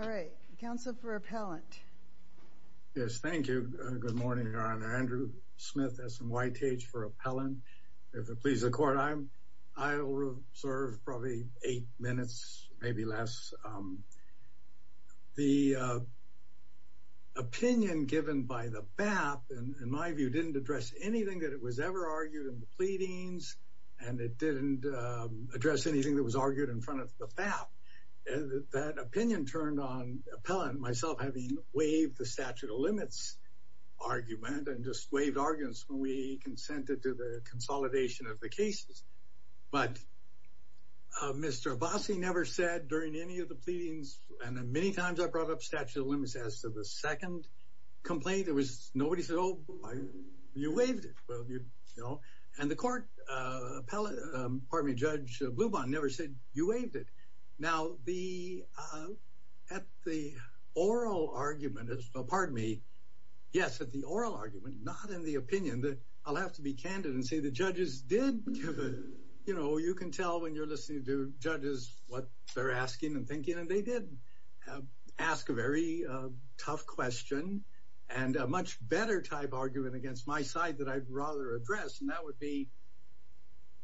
All right, Council for appellant. Yes, thank you. Good morning, Your Honor. Andrew Smith, that's from White H for appellant. If it pleases the court, I'm I'll serve probably eight minutes, maybe less. The opinion given by the BAP, in my view, didn't address anything that it was ever argued in the pleadings, and it didn't address anything that was argued in front of the BAP. And that opinion turned on appellant myself having waived the statute of limits argument and just waived arguments when we consented to the consolidation of the cases. But Mr. Abbasi never said during any of the pleadings, and many times I brought up statute of limits as to the second complaint, there was nobody said, Oh, you waived it. Well, you waived it. Now the at the oral argument is a part of me. Yes, at the oral argument, not in the opinion that I'll have to be candid and say the judges did. You know, you can tell when you're listening to judges what they're asking and thinking and they did ask a very tough question, and a much better type argument against my side that I'd rather address. And that would be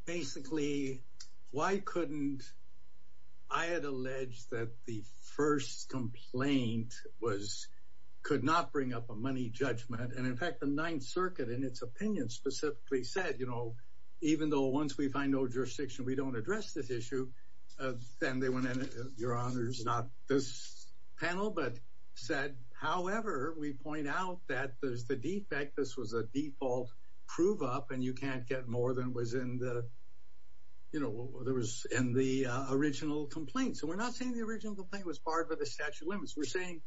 basically, why couldn't I had alleged that the first complaint was could not bring up a money judgment. And in fact, the Ninth Circuit, in its opinion, specifically said, you know, even though once we find no jurisdiction, we don't address this issue. Then they went in, your honors, not this panel, but said, however, we point out that there's the fact this was a default, prove up and you can't get more than was in the, you know, there was in the original complaint. So we're not saying the original complaint was barred by the statute of limits. We're saying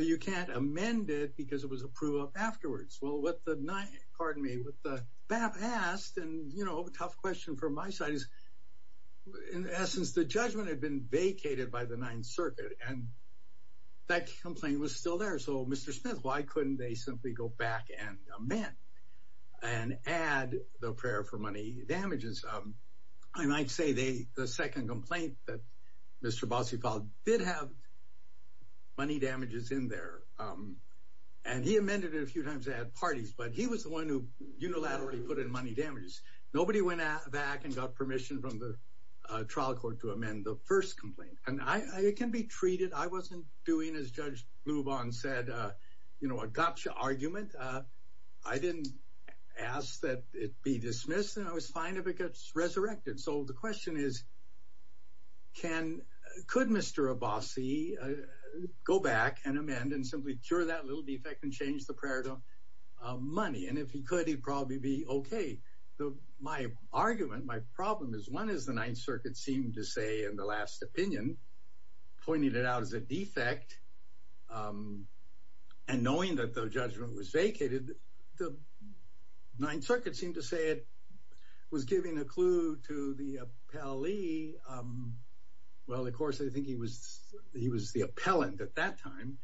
you can't amend it because it was approved afterwards. Well, what the night pardon me with the BAP asked, and you know, a tough question for my side is, in essence, the judgment had been vacated by the Ninth Circuit. And that complaint was still there. So Mr. Smith, why couldn't they simply go back and amend and add the prayer for money damages? Um, I might say they the second complaint that Mr. Bosley filed did have money damages in there. And he amended it a few times they had parties, but he was the one who unilaterally put in money damages. Nobody went back and got permission from the trial court to amend the first complaint. And I can be treated I wasn't doing as Judge move on said, you know, adoption argument. I didn't ask that it be dismissed. And I was fine if it gets resurrected. So the question is, can could Mr. Abbasi go back and amend and simply cure that little defect and change the prayer to money? And if he could, he'd probably be okay. The my argument my problem is one is the Ninth Circuit seemed to say in the last opinion, pointed it out as a defect. And knowing that the judgment was vacated, the Ninth Circuit seemed to say it was giving a clue to the appellee. Well, of course, I think he was he was the appellant at that time.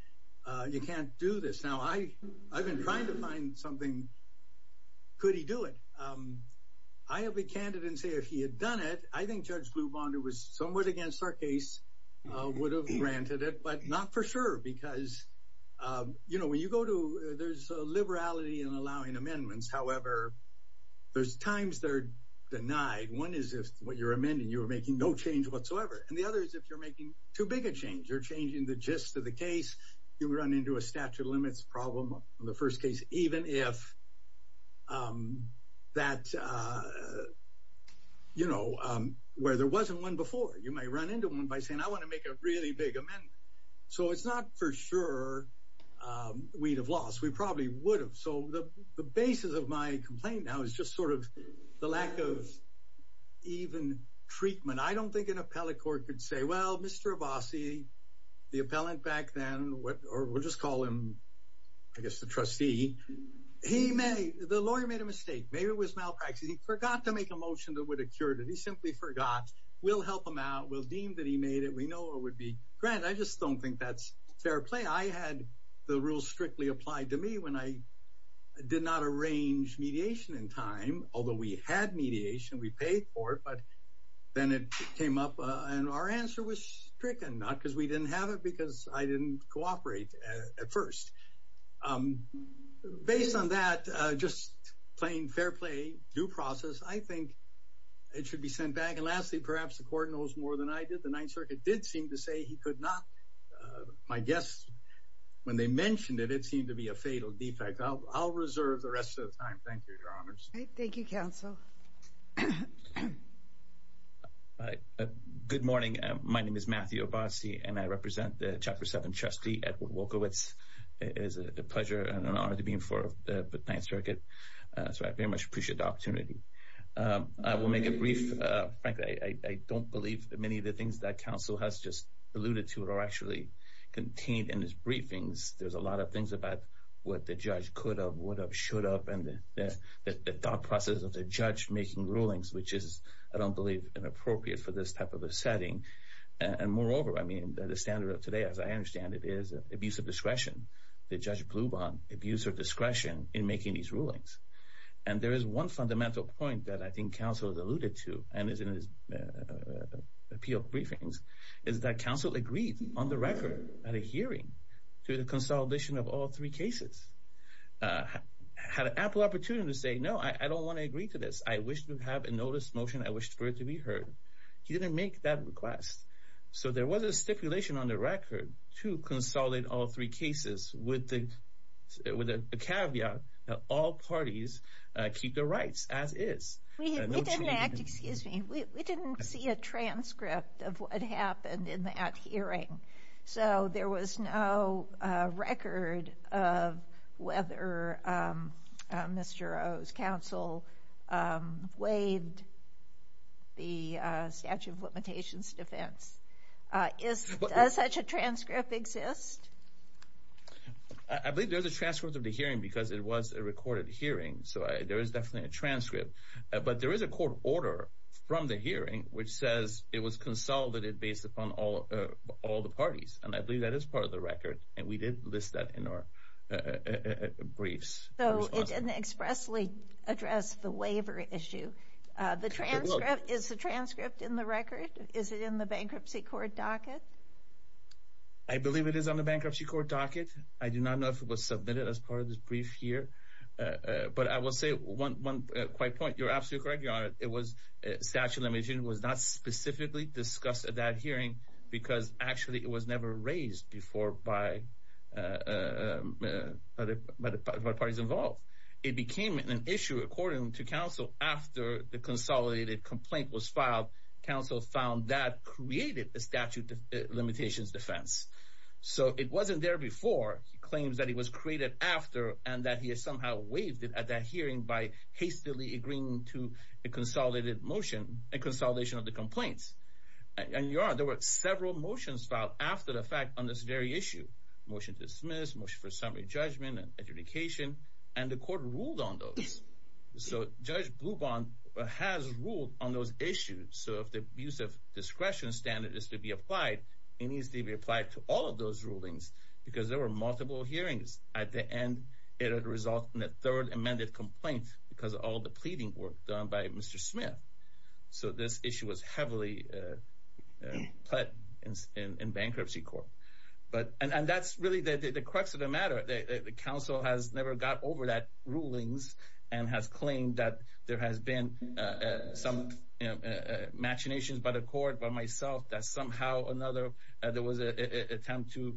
You can't do this. Now I I've been trying to find something. Could he do it? I have a candidate and say if he had done it, I think Judge Blue Bonder was somewhat against our case would have granted it but not for sure. Because, you know, when you go to there's liberality and allowing amendments, however, there's times they're denied. One is if what you're amending, you're making no change whatsoever. And the other is if you're making too big a change or changing the gist of the case, you run into a statute of limits problem on the first case, even if that, you know, where there wasn't one before, you may run into one by saying I want to make a really big amendment. So it's not for sure. We'd have lost, we probably would have. So the basis of my complaint now is just sort of the lack of even treatment. I don't think an appellate court could say well, Mr. Abbasi, the appellant back then what or we'll just call him, I guess the trustee. He may, the lawyer made a mistake. Maybe it was malpractice. He forgot to make a motion that would have cured it. He simply forgot. We'll help him out. We'll deem that he made it. We know it would be granted. I just don't think that's fair play. I had the rules strictly applied to me when I did not arrange mediation in time. Although we had mediation, we paid for it. But then it came up and our answer was stricken not because we didn't have it because I didn't cooperate at first. Based on that, just plain fair play, due process, I think it should be sent back. And lastly, perhaps the court knows more than I did. The Ninth Circuit did seem to say he could not. My guess, when they mentioned it, it seemed to be a fatal defect. I'll reserve the rest of the time. Thank you, Your Honors. Thank you, counsel. Good morning. My name is Matthew Obasi, and I represent the Chapter 7 trustee, Edward Wolkowicz. It is a pleasure and an honor to be before the Ninth Circuit. So I very much appreciate the opportunity. I will make it brief. Frankly, I don't believe many of the things that counsel has just alluded to are actually contained in his briefings. There's a lot of things about what the judge could have, would have, should have, and the thought process of the judge making rulings, which is, I don't believe, inappropriate for this type of a setting. And moreover, I mean, the standard of today, as I understand it, is abuse of discretion. Did Judge Blubin abuse her discretion in making these rulings? And there is one fundamental point that I think counsel has alluded to, and is in his appeal briefings, is that counsel agreed, on the record, at a hearing, to the consolidation of all three cases. Had an ample opportunity to say, no, I don't want to agree to this. I wish to have a notice motion. I wish for it to be heard. He didn't make that request. So there was a stipulation on the record to consolidate all three cases with the caveat that all parties keep their rights as is. We didn't see a transcript of what happened in that hearing. So there was no record of whether Mr. O's counsel waived the statute of limitations defense. Does such a transcript exist? I believe there's a transcript of the hearing because it was a recorded hearing. So there is definitely a transcript. But there is a court order from the hearing which says it was consolidated based upon all the parties. And I believe that is part of the record. And we did list that in our briefs. So it didn't expressly address the waiver issue. The transcript, is the transcript in the record? Is it in the bankruptcy court docket? I believe it is on the bankruptcy court docket. I do not know if it was submitted as part of this brief here. But I will say one quick point. You're absolutely correct, Your Honor. It was, statute of limitations was not specifically discussed at hearing because actually it was never raised before by the parties involved. It became an issue according to counsel after the consolidated complaint was filed. Counsel found that created the statute of limitations defense. So it wasn't there before. He claims that it was created after and that he has somehow waived it at that hearing by hastily agreeing to a consolidated motion, a consolidation of the complaints. And Your Honor, there were several motions filed after the fact on this very issue. Motion to dismiss, motion for summary judgment and adjudication. And the court ruled on those. So Judge Blubon has ruled on those issues. So if the abuse of discretion standard is to be applied, it needs to be applied to all of those rulings because there were multiple hearings. At the end, it had resulted in a third amended complaint because of all the pleading work done by Mr. Smith. So this issue was heavily pledged in bankruptcy court. And that's really the crux of the matter. The counsel has never got over that rulings and has claimed that there has been some machinations by the court, by myself, that somehow or another there was an attempt to,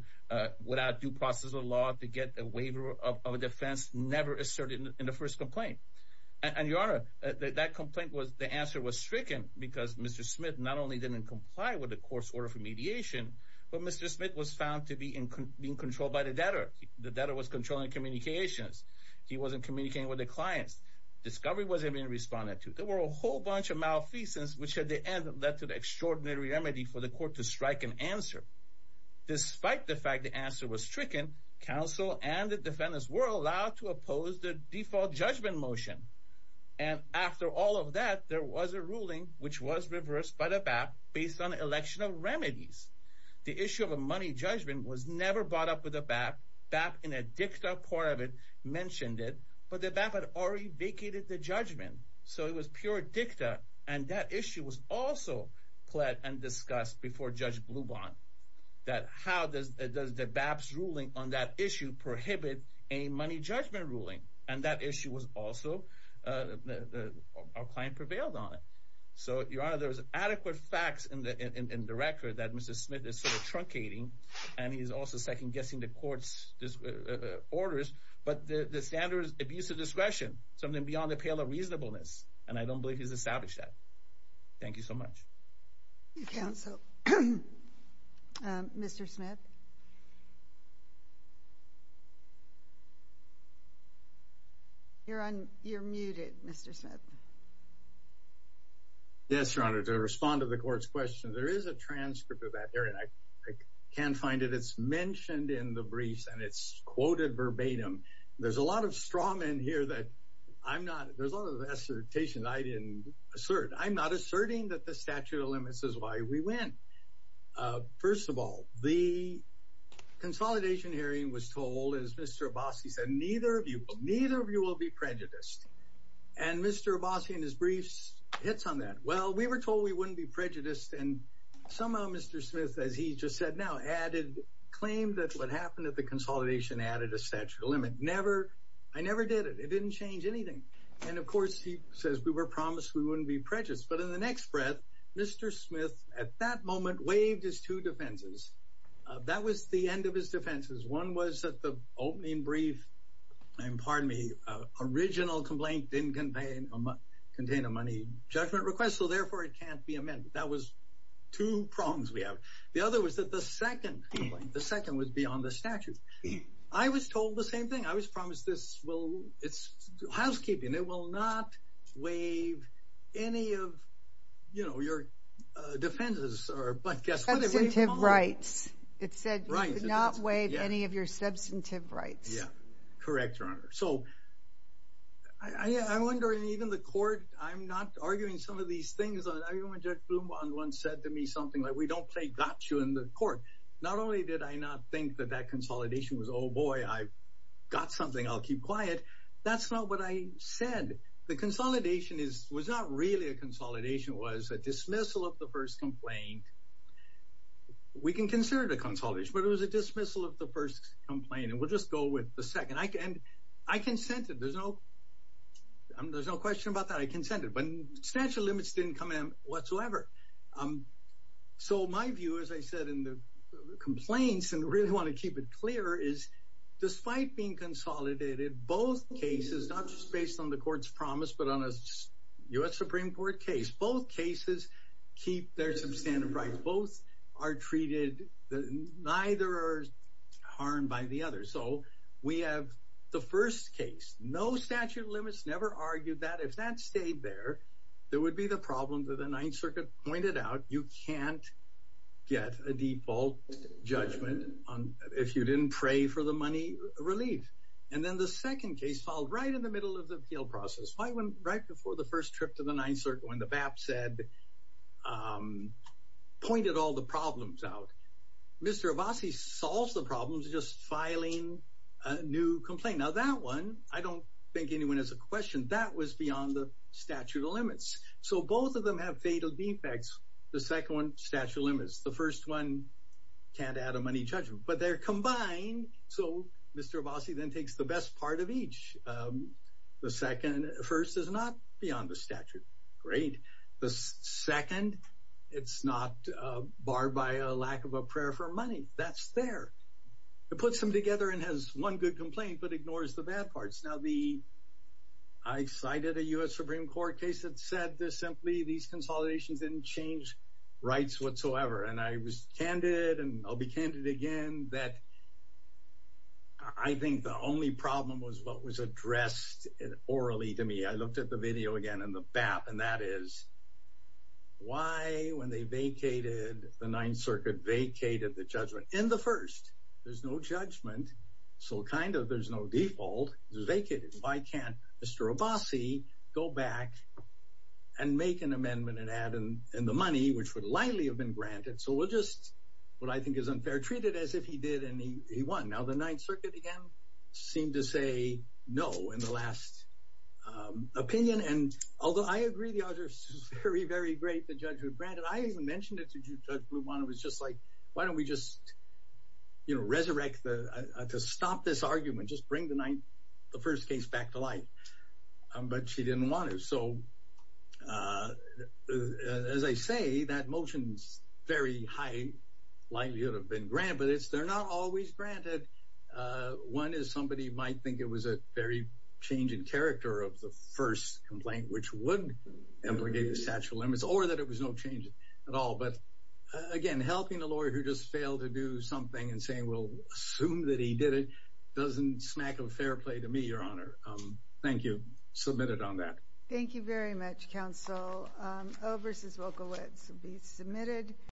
without due process of law, to get a waiver of a defense never asserted in the first complaint. And Your Honor, that complaint was, the answer was stricken because Mr. Smith not only didn't comply with the court's order for mediation, but Mr. Smith was found to be in control by the debtor. The debtor was controlling communications. He wasn't communicating with the clients. Discovery wasn't being responded to. There were a whole bunch of malfeasance which at the end led to the extraordinary remedy for the court to strike an answer. Despite the fact the answer was stricken, counsel and the defendants were allowed to oppose the default judgment motion. And after all of that, there was a ruling which was reversed by the BAP based on election of remedies. The issue of a money judgment was never brought up with the BAP. BAP in a dicta part of it mentioned it, but the BAP had already vacated the judgment. So it was pure dicta. And that issue was pled and discussed before Judge Bluban that how does the BAP's ruling on that issue prohibit a money judgment ruling? And that issue was also, our client prevailed on it. So Your Honor, there was adequate facts in the record that Mr. Smith is sort of truncating and he's also second-guessing the court's orders, but the standard is abuse of discretion, something I don't believe he's established that. Thank you so much. Thank you, counsel. Mr. Smith? You're muted, Mr. Smith. Yes, Your Honor. To respond to the court's question, there is a transcript of that hearing. I can't find it. It's mentioned in the briefs and it's quoted verbatim. There's a lot of assertation I didn't assert. I'm not asserting that the statute of limits is why we win. First of all, the consolidation hearing was told, as Mr. Abbasi said, neither of you, neither of you will be prejudiced. And Mr. Abbasi in his briefs hits on that. Well, we were told we wouldn't be prejudiced and somehow Mr. Smith, as he just said now, added, claimed that what happened at the consolidation added a statute of limit. Never, I never did it. It didn't change anything. And of course, he says we were promised we wouldn't be prejudiced. But in the next breath, Mr. Smith, at that moment, waived his two defenses. That was the end of his defenses. One was that the opening brief, pardon me, original complaint didn't contain a money judgment request, so therefore it can't be amended. That was two prongs we have. The other was that the second complaint, the second was beyond the statute. I was told the same thing. I was promised this will, it's housekeeping. It will not waive any of, you know, your defenses or, but guess what? Substantive rights. It said not waive any of your substantive rights. Yeah, correct, Your Honor. So I wonder, and even the court, I'm not arguing some of these things. I remember Judge Blumbaum once said to me something like, we don't play gotcha in the court. Not only did I not think that that consolidation was, oh boy, I've got something, I'll keep quiet. That's not what I said. The consolidation was not really a consolidation. It was a dismissal of the first complaint. We can consider it a consolidation, but it was a dismissal of the first complaint. And we'll just go with the second. I can, I consented. There's no, there's no question about that. I consented. But the statute of limits didn't come in whatsoever. So my view, as I said, in the complaints, and really want to keep it clear, is despite being consolidated, both cases, not just based on the court's promise, but on a U.S. Supreme Court case, both cases keep their substantive rights. Both are treated, neither are harmed by the other. So we have the first case, no statute of limits, never argued that. If that stayed there, there would be the problem that the Ninth Circuit pointed out, you can't get a default judgment on, if you didn't pray for the money, relief. And then the second case filed right in the middle of the appeal process, right before the first trip to the Ninth Circuit, when the BAP said, pointed all the problems out. Mr. Abbasi solves the problems just filing a new complaint. Now, that one, I don't think anyone has a question. That was beyond the statute of limits. So both of them have fatal defects. The second one, statute of limits. The first one, can't add a money judgment. But they're combined. So Mr. Abbasi then takes the best part of each. The second, first is not beyond the statute. Great. The second, it's not barred by a lack of a prayer for money. That's there. It puts them together and has one good complaint, but ignores the bad parts. Now, I cited a U.S. Supreme Court case that said this simply, these consolidations didn't change rights whatsoever. And I was candid, and I'll be candid again, that I think the only problem was what was addressed orally to me. I looked at the video again, and the BAP, and that is, why, when they vacated the Ninth Circuit, vacated the judgment? In the first, there's no judgment, so kind of there's no default. It's vacated. Why can't Mr. Abbasi go back and make an amendment and add in the money, which would likely have been granted? So we'll just, what I think is unfair, treat it as if he did and he won. Now, the Ninth Circuit, again, seemed to say no in the last opinion. And although I agree the auditors are very, very great, the judge would grant it, I even mentioned it to Judge Blum on it. It was just like, why don't we just, you know, resurrect the, to stop this argument, just bring the Ninth, the first case back to life. But she didn't want it. So as I say, that motion's very high, likely it would have been granted, but it's, they're not always granted. One is somebody might think it was a very change in character of the first complaint, which would obligate the statute of limits, or that it was no change at all. But again, helping a lawyer who just failed to do something and saying, well, assume that he did it, doesn't smack of fair play to me, Your Honor. Thank you. Submit it on that. Thank you very much, counsel. Overs is vocal. It should be submitted.